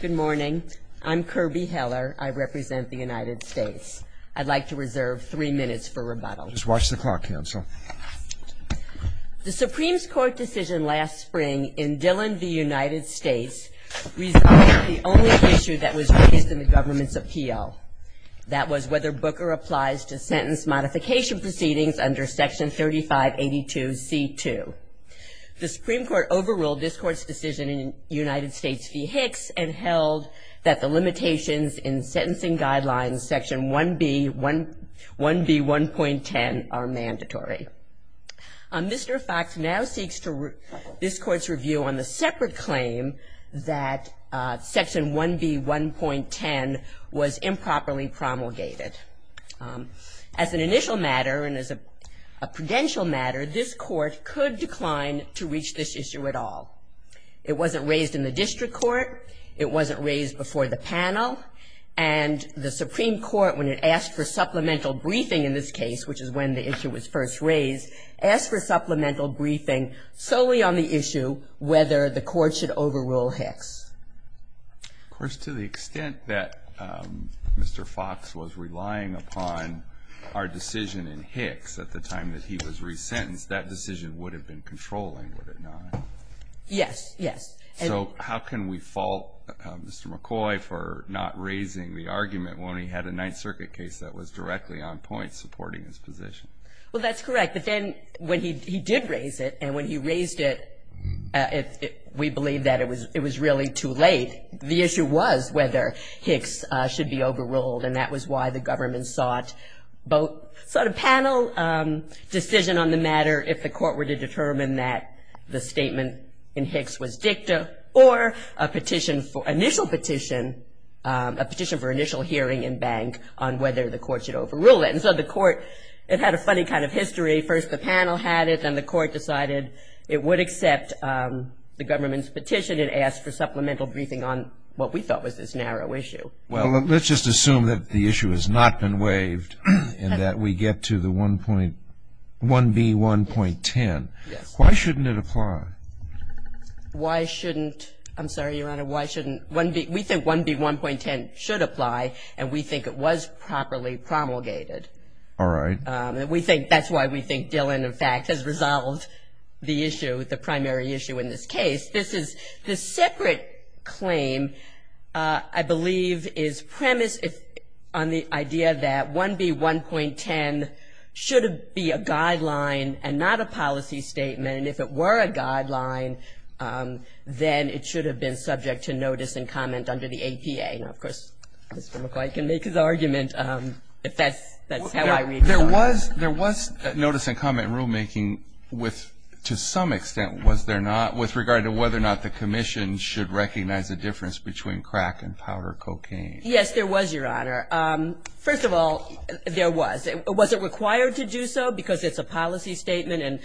Good morning. I'm Kirby Heller. I represent the United States. I'd like to reserve three minutes for rebuttal. Just watch the clock, Counsel. The Supreme Court decision last spring in Dillon v. United States resolved the only issue that was raised in the government's appeal. That was whether Booker applies to sentence modification proceedings under Section 3582 C.2. The Supreme Court overruled this Court's decision in United States v. Hicks and held that the limitations in sentencing guidelines Section 1B 1.10 are mandatory. Mr. Fox now seeks this Court's review on the separate claim that Section 1B 1.10 was improperly promulgated. As an initial matter and as a prudential matter, this Court could decline to reach this issue at all. It wasn't raised in the district court. It wasn't raised before the panel. And the Supreme Court, when it asked for supplemental briefing in this case, which is when the issue was first raised, asked for supplemental briefing solely on the issue whether the Court should overrule Hicks. Of course, to the extent that Mr. Fox was relying upon our decision in Hicks at the time that he was resentenced, that decision would have been controlling, would it not? Yes. Yes. So how can we fault Mr. McCoy for not raising the argument when he had a Ninth Circuit case that was directly on point supporting his position? Well, that's correct. But then when he did raise it, and when he raised it, we believe that it was really too late. The issue was whether Hicks should be overruled, and that was why the government sought both sort of panel decision on the matter if the Court were to determine that the statement in Hicks was dicta or a petition for initial petition, a petition for initial hearing in bank on whether the Court should overrule it. And so the Court, it had a funny kind of history. First the panel had it, then the Court decided it would accept the government's petition and ask for supplemental briefing on what we thought was this narrow issue. Well, let's just assume that the issue has not been waived and that we get to the 1B1.10. Yes. Why shouldn't it apply? Why shouldn't – I'm sorry, Your Honor, why shouldn't – We think 1B1.10 should apply, and we think it was properly promulgated. All right. And we think that's why we think Dillon, in fact, has resolved the issue, the primary issue in this case. This is the separate claim, I believe, is premised on the idea that 1B1.10 should be a guideline and not a policy statement. And if it were a guideline, then it should have been subject to notice and comment under the APA. Now, of course, Mr. McCoy can make his argument if that's how I read it. There was notice and comment rulemaking to some extent, was there not, with regard to whether or not the Commission should recognize the difference between crack and powder cocaine. Yes, there was, Your Honor. First of all, there was. Was it required to do so, because it's a policy statement,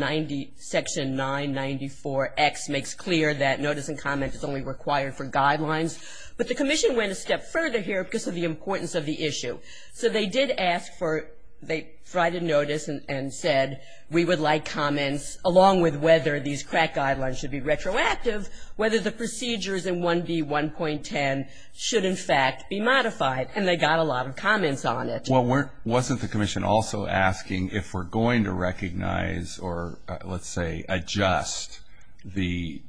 and Section 994X makes clear that notice and comment is only required for guidelines. But the Commission went a step further here because of the importance of the issue. So they did ask for – they tried to notice and said we would like comments, along with whether these crack guidelines should be retroactive, whether the procedures in 1B1.10 should, in fact, be modified. And they got a lot of comments on it. Well, wasn't the Commission also asking if we're going to recognize, or let's say adjust the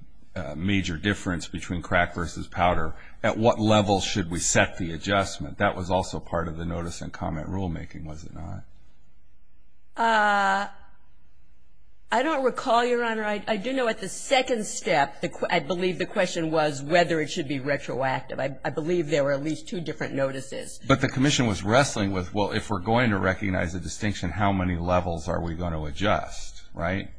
major difference between crack versus powder, at what level should we set the adjustment? That was also part of the notice and comment rulemaking, was it not? I don't recall, Your Honor. I do know at the second step, I believe the question was whether it should be retroactive. I believe there were at least two different notices. But the Commission was wrestling with, well, if we're going to recognize a distinction, how many levels are we going to adjust, right?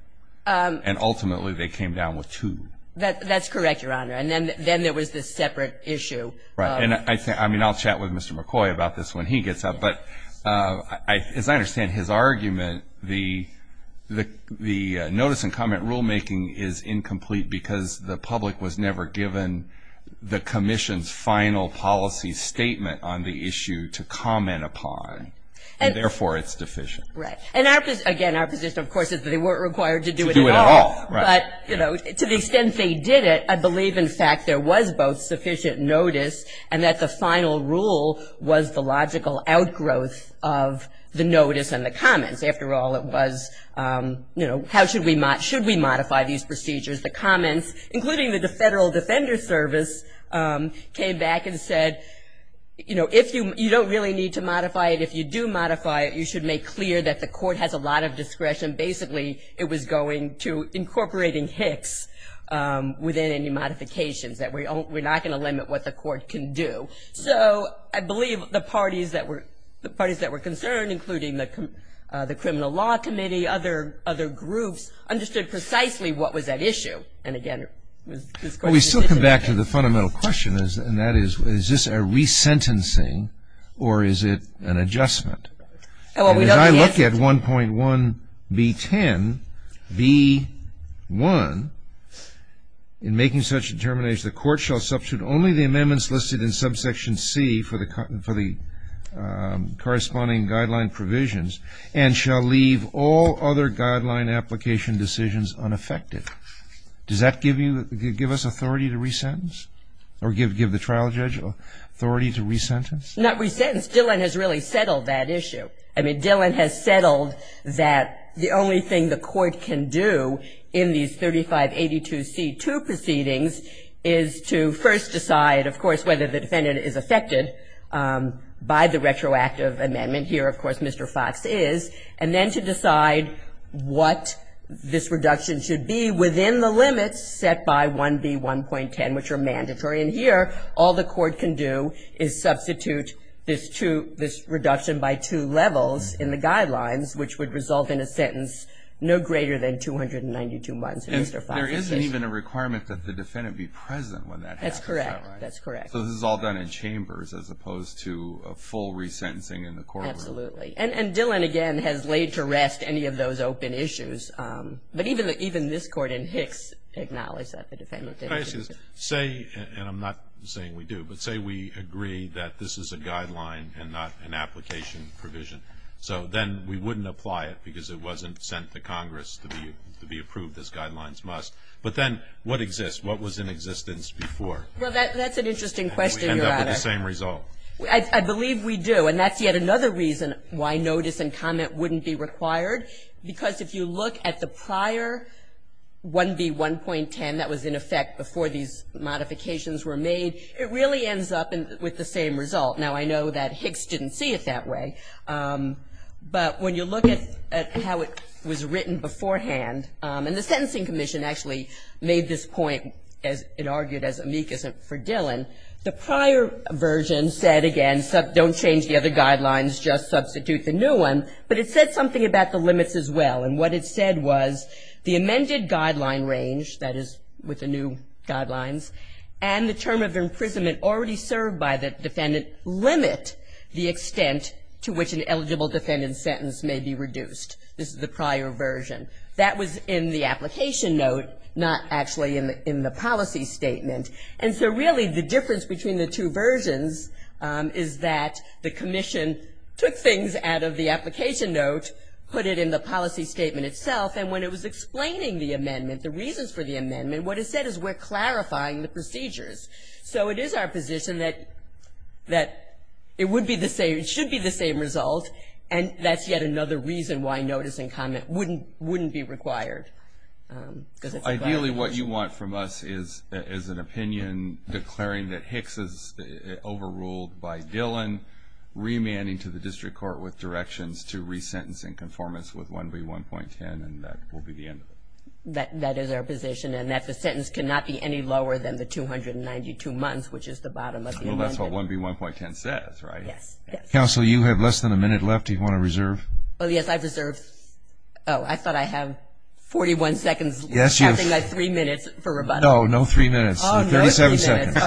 And ultimately they came down with two. That's correct, Your Honor. And then there was this separate issue. Right. And I'll chat with Mr. McCoy about this when he gets up. But as I understand his argument, the notice and comment rulemaking is incomplete because the public was never given the Commission's final policy statement on the issue to comment upon, and therefore it's deficient. Right. And, again, our position, of course, is that they weren't required to do it at all. To do it at all, right. But, you know, to the extent they did it, I believe, in fact, there was both sufficient notice and that the final rule was the logical outgrowth of the notice and the comments. After all, it was, you know, how should we modify these procedures? The comments, including the Federal Defender Service, came back and said, you know, if you don't really need to modify it, if you do modify it, you should make clear that the court has a lot of discretion. Basically it was going to incorporating Hicks within any modifications, that we're not going to limit what the court can do. So I believe the parties that were concerned, including the Criminal Law Committee, and the other groups, understood precisely what was at issue. And, again, this question is difficult. We still come back to the fundamental question, and that is, is this a resentencing, or is it an adjustment? As I look at 1.1B10, B1, in making such a determination, the court shall substitute only the amendments listed in subsection C for the corresponding guideline provisions and shall leave all other guideline application decisions unaffected. Does that give you, give us authority to resentence? Or give the trial judge authority to resentence? Not resentence. Dillon has really settled that issue. I mean, Dillon has settled that the only thing the court can do in these 3582C2 proceedings is to first decide, of course, whether the defendant is affected by the retroactive amendment. And here, of course, Mr. Fox is. And then to decide what this reduction should be within the limits set by 1B1.10, which are mandatory. And here, all the court can do is substitute this reduction by two levels in the guidelines, which would result in a sentence no greater than 292 months in Mr. Fox's case. There isn't even a requirement that the defendant be present when that happens, is that right? That's correct. So this is all done in chambers as opposed to a full resentencing in the courtroom. Absolutely. And Dillon, again, has laid to rest any of those open issues. But even this Court in Hicks acknowledged that the defendant didn't. Say, and I'm not saying we do, but say we agree that this is a guideline and not an application provision. So then we wouldn't apply it because it wasn't sent to Congress to be approved as guidelines must. But then what exists? What was in existence before? Well, that's an interesting question, Your Honor. And do we end up with the same result? I believe we do. And that's yet another reason why notice and comment wouldn't be required. Because if you look at the prior 1B1.10 that was in effect before these modifications were made, it really ends up with the same result. Now, I know that Hicks didn't see it that way. But when you look at how it was written beforehand, and the Sentencing Commission actually made this point, as it argued as amicus for Dillon, the prior version said, again, don't change the other guidelines, just substitute the new one. But it said something about the limits as well. And what it said was the amended guideline range, that is with the new guidelines, and the term of imprisonment already served by the defendant limit the extent to which an eligible defendant's sentence may be reduced. This is the prior version. That was in the application note, not actually in the policy statement. And so really the difference between the two versions is that the commission took things out of the application note, put it in the policy statement itself. And when it was explaining the amendment, the reasons for the amendment, what it said is we're clarifying the procedures. So it is our position that it would be the same, it should be the same result. And that's yet another reason why notice and comment wouldn't be required. Ideally what you want from us is an opinion declaring that Hicks is overruled by Dillon, remanding to the district court with directions to resentencing conformance with 1B1.10, and that will be the end of it. That is our position, and that the sentence cannot be any lower than the 292 months, which is the bottom of the amendment. Well, that's what 1B1.10 says, right? Yes, yes. Counsel, you have less than a minute left. Do you want to reserve? Oh, yes. I've reserved. Oh, I thought I have 41 seconds. Yes, you have. I think I have three minutes for rebuttal. No, no three minutes. No, three minutes. Sorry.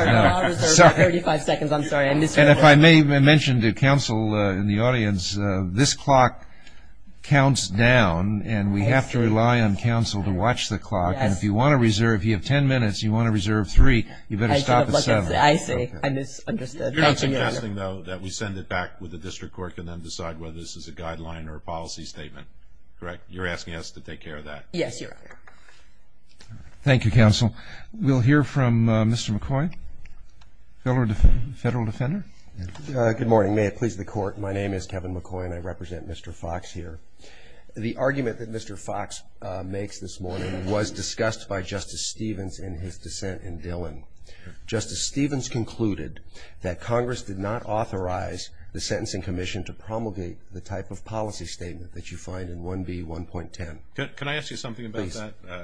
I'll reserve 35 seconds. I'm sorry. And if I may mention to counsel in the audience, this clock counts down, and we have to rely on counsel to watch the clock. And if you want to reserve, you have ten minutes, you want to reserve three, you better stop at seven. I see. I misunderstood. You're not suggesting, though, that we send it back with the district court and then decide whether this is a guideline or a policy statement, correct? You're asking us to take care of that. Yes, Your Honor. Thank you, counsel. We'll hear from Mr. McCoy, Federal Defender. Good morning. May it please the Court. My name is Kevin McCoy, and I represent Mr. Fox here. The argument that Mr. Fox makes this morning was discussed by Justice Stevens in his dissent in Dillon. Justice Stevens concluded that Congress did not authorize the Sentencing Commission to promulgate the type of policy statement that you find in 1B1.10. Can I ask you something about that? Please.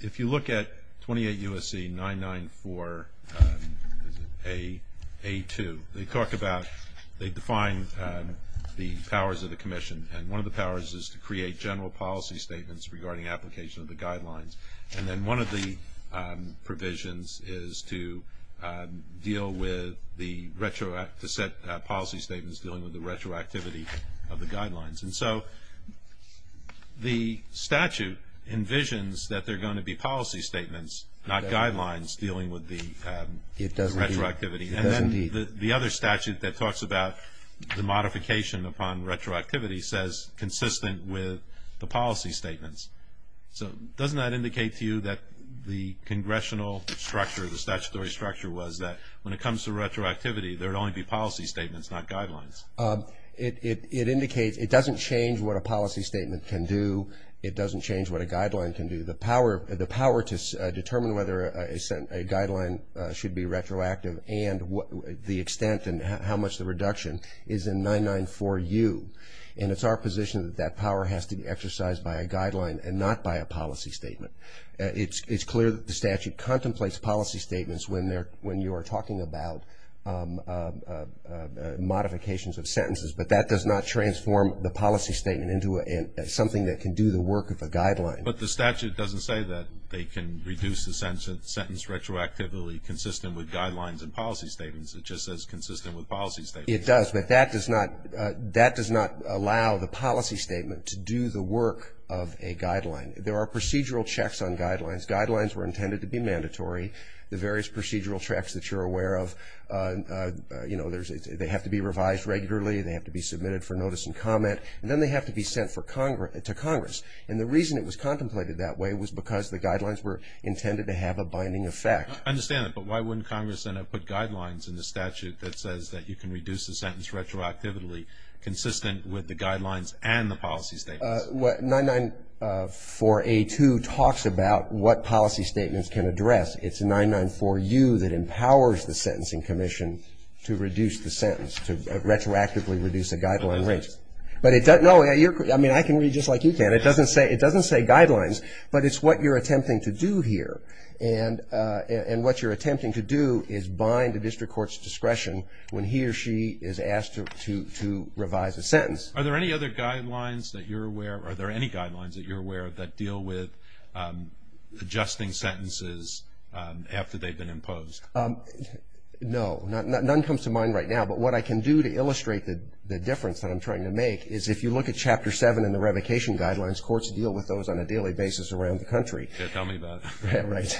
If you look at 28 U.S.C. 994A2, they talk about they define the powers of the commission, and one of the powers is to create general policy statements regarding application of the guidelines. And then one of the provisions is to deal with the retroactive set policy statements dealing with the retroactivity of the guidelines. And so the statute envisions that there are going to be policy statements, not guidelines, dealing with the retroactivity. And then the other statute that talks about the modification upon retroactivity says consistent with the policy statements. So doesn't that indicate to you that the congressional structure, the statutory structure was that when it comes to retroactivity, there would only be policy statements, not guidelines? It indicates it doesn't change what a policy statement can do. It doesn't change what a guideline can do. The power to determine whether a guideline should be retroactive and the extent and how much the reduction is in 994U. And it's our position that that power has to be exercised by a guideline and not by a policy statement. It's clear that the statute contemplates policy statements when you are talking about modifications of sentences, but that does not transform the policy statement into something that can do the work of a guideline. But the statute doesn't say that they can reduce the sentence retroactively consistent with guidelines and policy statements. It just says consistent with policy statements. It does. But that does not allow the policy statement to do the work of a guideline. There are procedural checks on guidelines. Guidelines were intended to be mandatory. The various procedural checks that you're aware of, you know, they have to be revised regularly. They have to be submitted for notice and comment. And then they have to be sent to Congress. And the reason it was contemplated that way was because the guidelines were intended to have a binding effect. I understand that, but why wouldn't Congress then have put guidelines in the statute that says that you can reduce the sentence retroactively consistent with the guidelines and the policy statements? 994A2 talks about what policy statements can address. It's 994U that empowers the Sentencing Commission to reduce the sentence, to retroactively reduce the guideline rates. But it doesn't know. I mean, I can read just like you can. It doesn't say guidelines, but it's what you're attempting to do here. And what you're attempting to do is bind the district court's discretion when he or she is asked to revise a sentence. Are there any other guidelines that you're aware of? Are there any guidelines that you're aware of that deal with adjusting sentences after they've been imposed? No. None comes to mind right now. But what I can do to illustrate the difference that I'm trying to make is if you look at Chapter 7 in the revocation guidelines, courts deal with those on a daily basis around the country. Tell me about it. Right.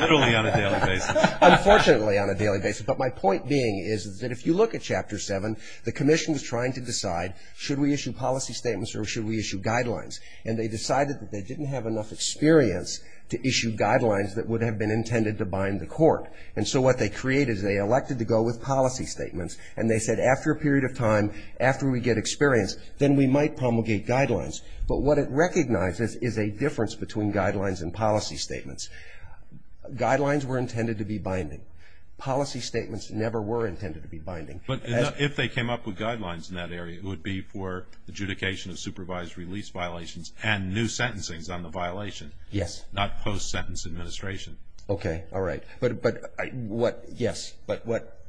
Literally on a daily basis. Unfortunately on a daily basis. But my point being is that if you look at Chapter 7, the commission is trying to decide should we issue policy statements or should we issue guidelines. And they decided that they didn't have enough experience to issue guidelines that would have been intended to bind the court. And so what they created is they elected to go with policy statements. And they said after a period of time, after we get experience, then we might promulgate guidelines. But what it recognizes is a difference between guidelines and policy statements. Guidelines were intended to be binding. Policy statements never were intended to be binding. But if they came up with guidelines in that area, it would be for adjudication of supervised release violations and new sentencing on the violation. Yes. Not post-sentence administration. Okay. All right. But what, yes, but what,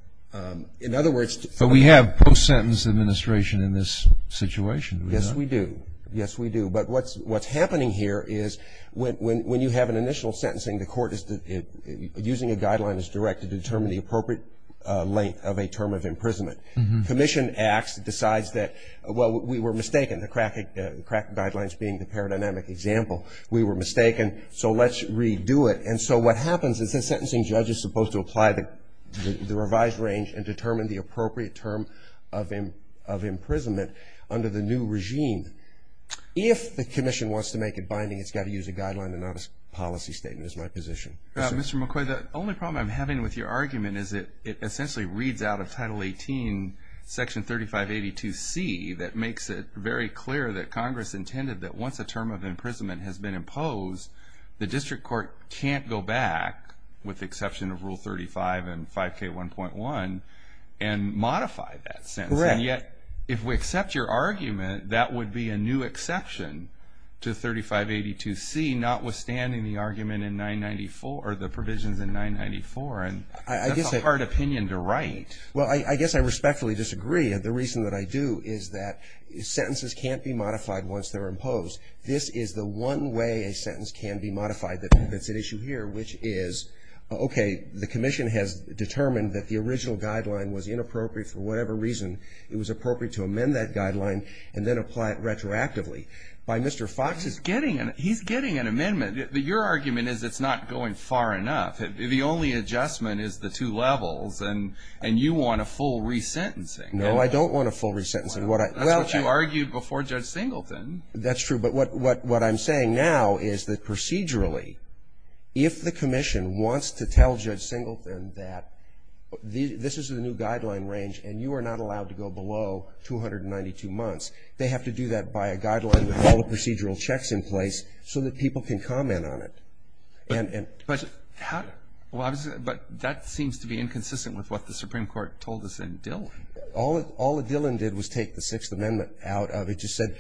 in other words. But we have post-sentence administration in this situation. Yes, we do. Yes, we do. But what's happening here is when you have an initial sentencing, the court is using a guideline as direct to determine the appropriate length of a term of imprisonment. Commission acts, decides that, well, we were mistaken. The crack guidelines being the paradigmatic example. We were mistaken, so let's redo it. And so what happens is the sentencing judge is supposed to apply the revised range and determine the appropriate term of imprisonment under the new regime. If the commission wants to make it binding, it's got to use a guideline and not a policy statement is my position. Mr. McCoy, the only problem I'm having with your argument is that it essentially reads out of Title 18, Section 3582C, that makes it very clear that Congress intended that once a term of imprisonment has been imposed, the district court can't go back, with the exception of Rule 35 and 5K1.1, and modify that sentence. Correct. And yet, if we accept your argument, that would be a new exception to 3582C, notwithstanding the argument in 994, or the provisions in 994, and that's a hard opinion to write. Well, I guess I respectfully disagree. The reason that I do is that sentences can't be modified once they're imposed. This is the one way a sentence can be modified that's at issue here, which is, okay, the commission has determined that the original guideline was appropriate to amend that guideline and then apply it retroactively. By Mr. Fox's point. He's getting an amendment. Your argument is it's not going far enough. The only adjustment is the two levels, and you want a full resentencing. No, I don't want a full resentencing. That's what you argued before Judge Singleton. That's true. But what I'm saying now is that procedurally, if the commission wants to tell Judge Singleton that this is a new guideline range and you are not allowed to go below 292 months, they have to do that by a guideline with all the procedural checks in place so that people can comment on it. But how do you do that? But that seems to be inconsistent with what the Supreme Court told us in Dillon. All that Dillon did was take the Sixth Amendment out of it. It just said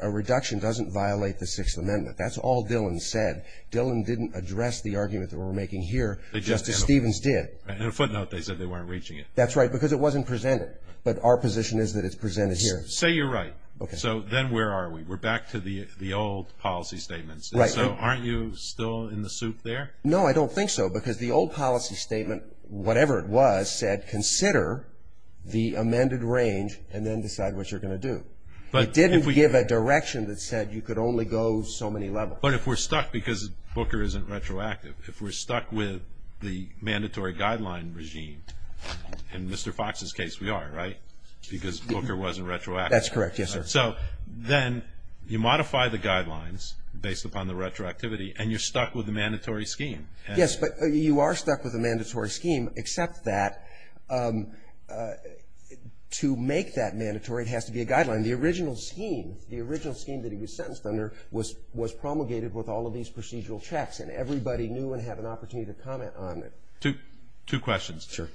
a reduction doesn't violate the Sixth Amendment. That's all Dillon said. Dillon didn't address the argument that we're making here, just as Stevens did. On a footnote, they said they weren't reaching it. That's right, because it wasn't presented. But our position is that it's presented here. Say you're right. So then where are we? We're back to the old policy statements. So aren't you still in the soup there? No, I don't think so, because the old policy statement, whatever it was, said consider the amended range and then decide what you're going to do. It didn't give a direction that said you could only go so many levels. But if we're stuck, because Booker isn't retroactive, if we're stuck with the mandatory guideline regime, in Mr. Fox's case we are, right? Because Booker wasn't retroactive. That's correct, yes, sir. So then you modify the guidelines based upon the retroactivity, and you're stuck with the mandatory scheme. Yes, but you are stuck with a mandatory scheme, except that to make that mandatory it has to be a guideline. The original scheme, the original scheme that he was sentenced under, was promulgated with all of these procedural checks, and everybody knew and had an opportunity to comment on it. Two questions. Sure.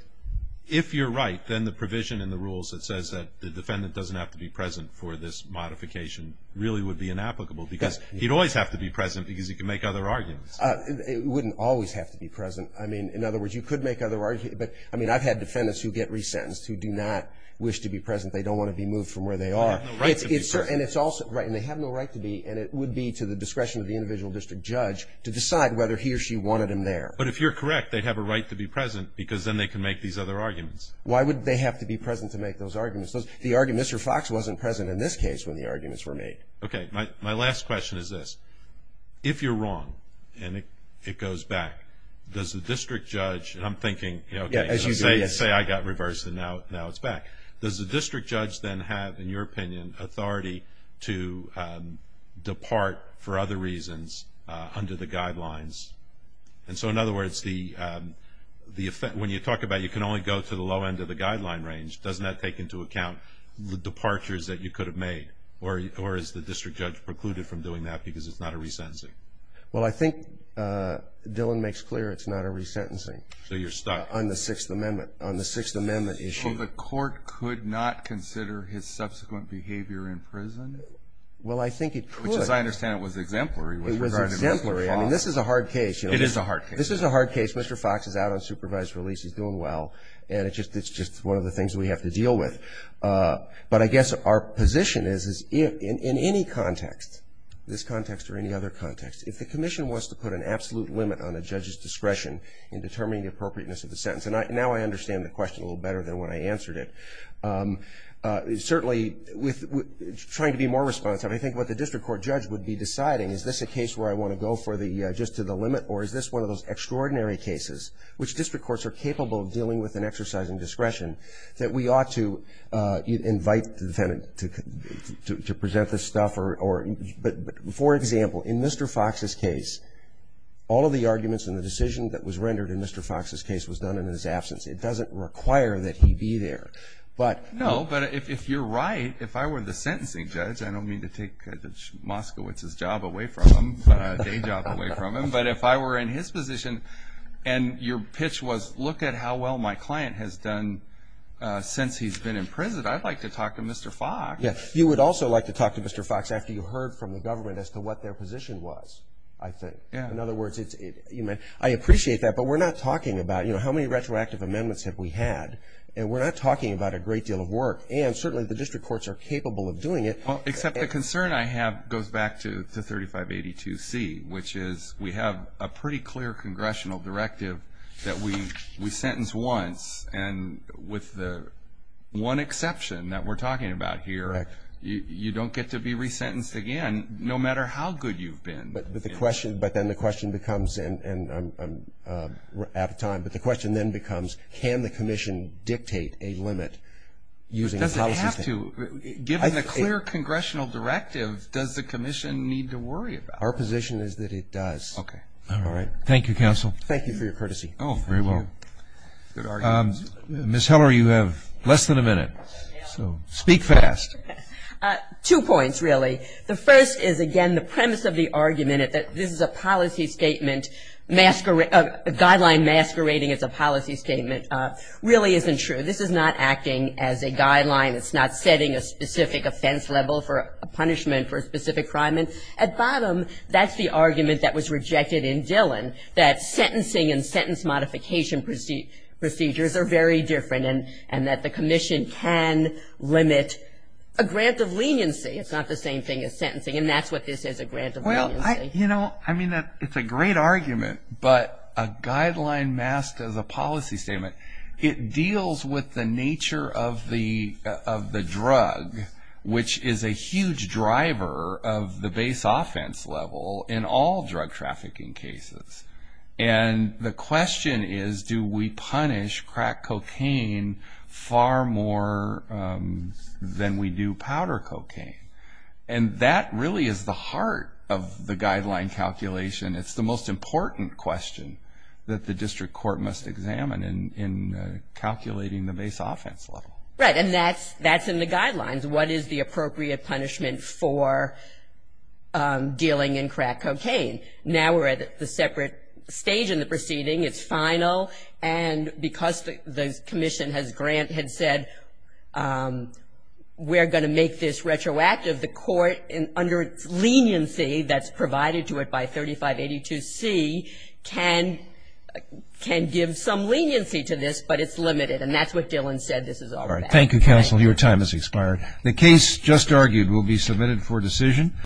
If you're right, then the provision in the rules that says that the defendant doesn't have to be present for this modification really would be inapplicable, because he'd always have to be present because he could make other arguments. He wouldn't always have to be present. I mean, in other words, you could make other arguments, but I mean I've had defendants who get resentenced who do not wish to be present. They don't want to be moved from where they are. They have no right to be present. Right, and they have no right to be, and it would be to the discretion of the individual district judge to decide whether he or she wanted him there. But if you're correct, they'd have a right to be present because then they can make these other arguments. Why would they have to be present to make those arguments? Mr. Fox wasn't present in this case when the arguments were made. Okay, my last question is this. If you're wrong and it goes back, does the district judge, and I'm thinking, say I got reversed and now it's back. Does the district judge then have, in your opinion, authority to depart for other reasons under the guidelines? And so, in other words, when you talk about you can only go to the low end of the guideline range, doesn't that take into account the departures that you could have made? Or is the district judge precluded from doing that because it's not a resentencing? Well, I think Dillon makes clear it's not a resentencing. So you're stuck. On the Sixth Amendment, on the Sixth Amendment issue. So the court could not consider his subsequent behavior in prison? Well, I think it could. Which, as I understand it, was exemplary. It was exemplary. I mean, this is a hard case. It is a hard case. This is a hard case. Mr. Fox is out on supervised release. He's doing well. And it's just one of the things we have to deal with. But I guess our position is, in any context, this context or any other context, if the commission wants to put an absolute limit on a judge's discretion in determining the appropriateness of the sentence, and now I understand the question a little better than when I answered it. Certainly, trying to be more responsive, I think what the district court judge would be deciding, is this a case where I want to go just to the limit, or is this one of those extraordinary cases which district courts are capable of dealing with and exercising discretion that we ought to invite the defendant to present this stuff? For example, in Mr. Fox's case, all of the arguments in the decision that was rendered in Mr. Fox's case was done in his absence. It doesn't require that he be there. No, but if you're right, if I were the sentencing judge, I don't mean to take Moskowitz's job away from him, day job away from him, but if I were in his position and your pitch was, look at how well my client has done since he's been in prison, I'd like to talk to Mr. Fox. You would also like to talk to Mr. Fox after you heard from the government as to what their position was, I think. In other words, I appreciate that, but we're not talking about how many retroactive amendments have we had, and we're not talking about a great deal of work, and certainly the district courts are capable of doing it. Except the concern I have goes back to 3582C, which is we have a pretty clear congressional directive that we sentence once, and with the one exception that we're talking about here, you don't get to be resentenced again, no matter how good you've been. But then the question becomes, and I'm out of time, but the question then becomes can the commission dictate a limit using a policy statement? Does it have to? Given the clear congressional directive, does the commission need to worry about that? Our position is that it does. All right. Thank you, counsel. Thank you for your courtesy. Oh, very well. Good argument. Ms. Heller, you have less than a minute, so speak fast. Two points, really. The first is, again, the premise of the argument that this is a policy statement, a guideline masquerading as a policy statement, really isn't true. This is not acting as a guideline. It's not setting a specific offense level for a punishment for a specific crime. At bottom, that's the argument that was rejected in Dillon, that sentencing and sentence modification procedures are very different and that the commission can limit a grant of leniency. It's not the same thing as sentencing, and that's what this is, a grant of leniency. Well, you know, I mean, it's a great argument, but a guideline masked as a policy statement, it deals with the nature of the drug, which is a huge driver of the base offense level in all drug trafficking cases. And the question is, do we punish crack cocaine far more than we do powder cocaine? And that really is the heart of the guideline calculation. It's the most important question that the district court must examine in calculating the base offense level. Right, and that's in the guidelines. What is the appropriate punishment for dealing in crack cocaine? Now we're at the separate stage in the proceeding. It's final, and because the commission has grant, had said we're going to make this retroactive, under leniency that's provided to it by 3582C can give some leniency to this, but it's limited, and that's what Dillon said this is all about. Thank you, counsel. Your time has expired. The case just argued will be submitted for decision.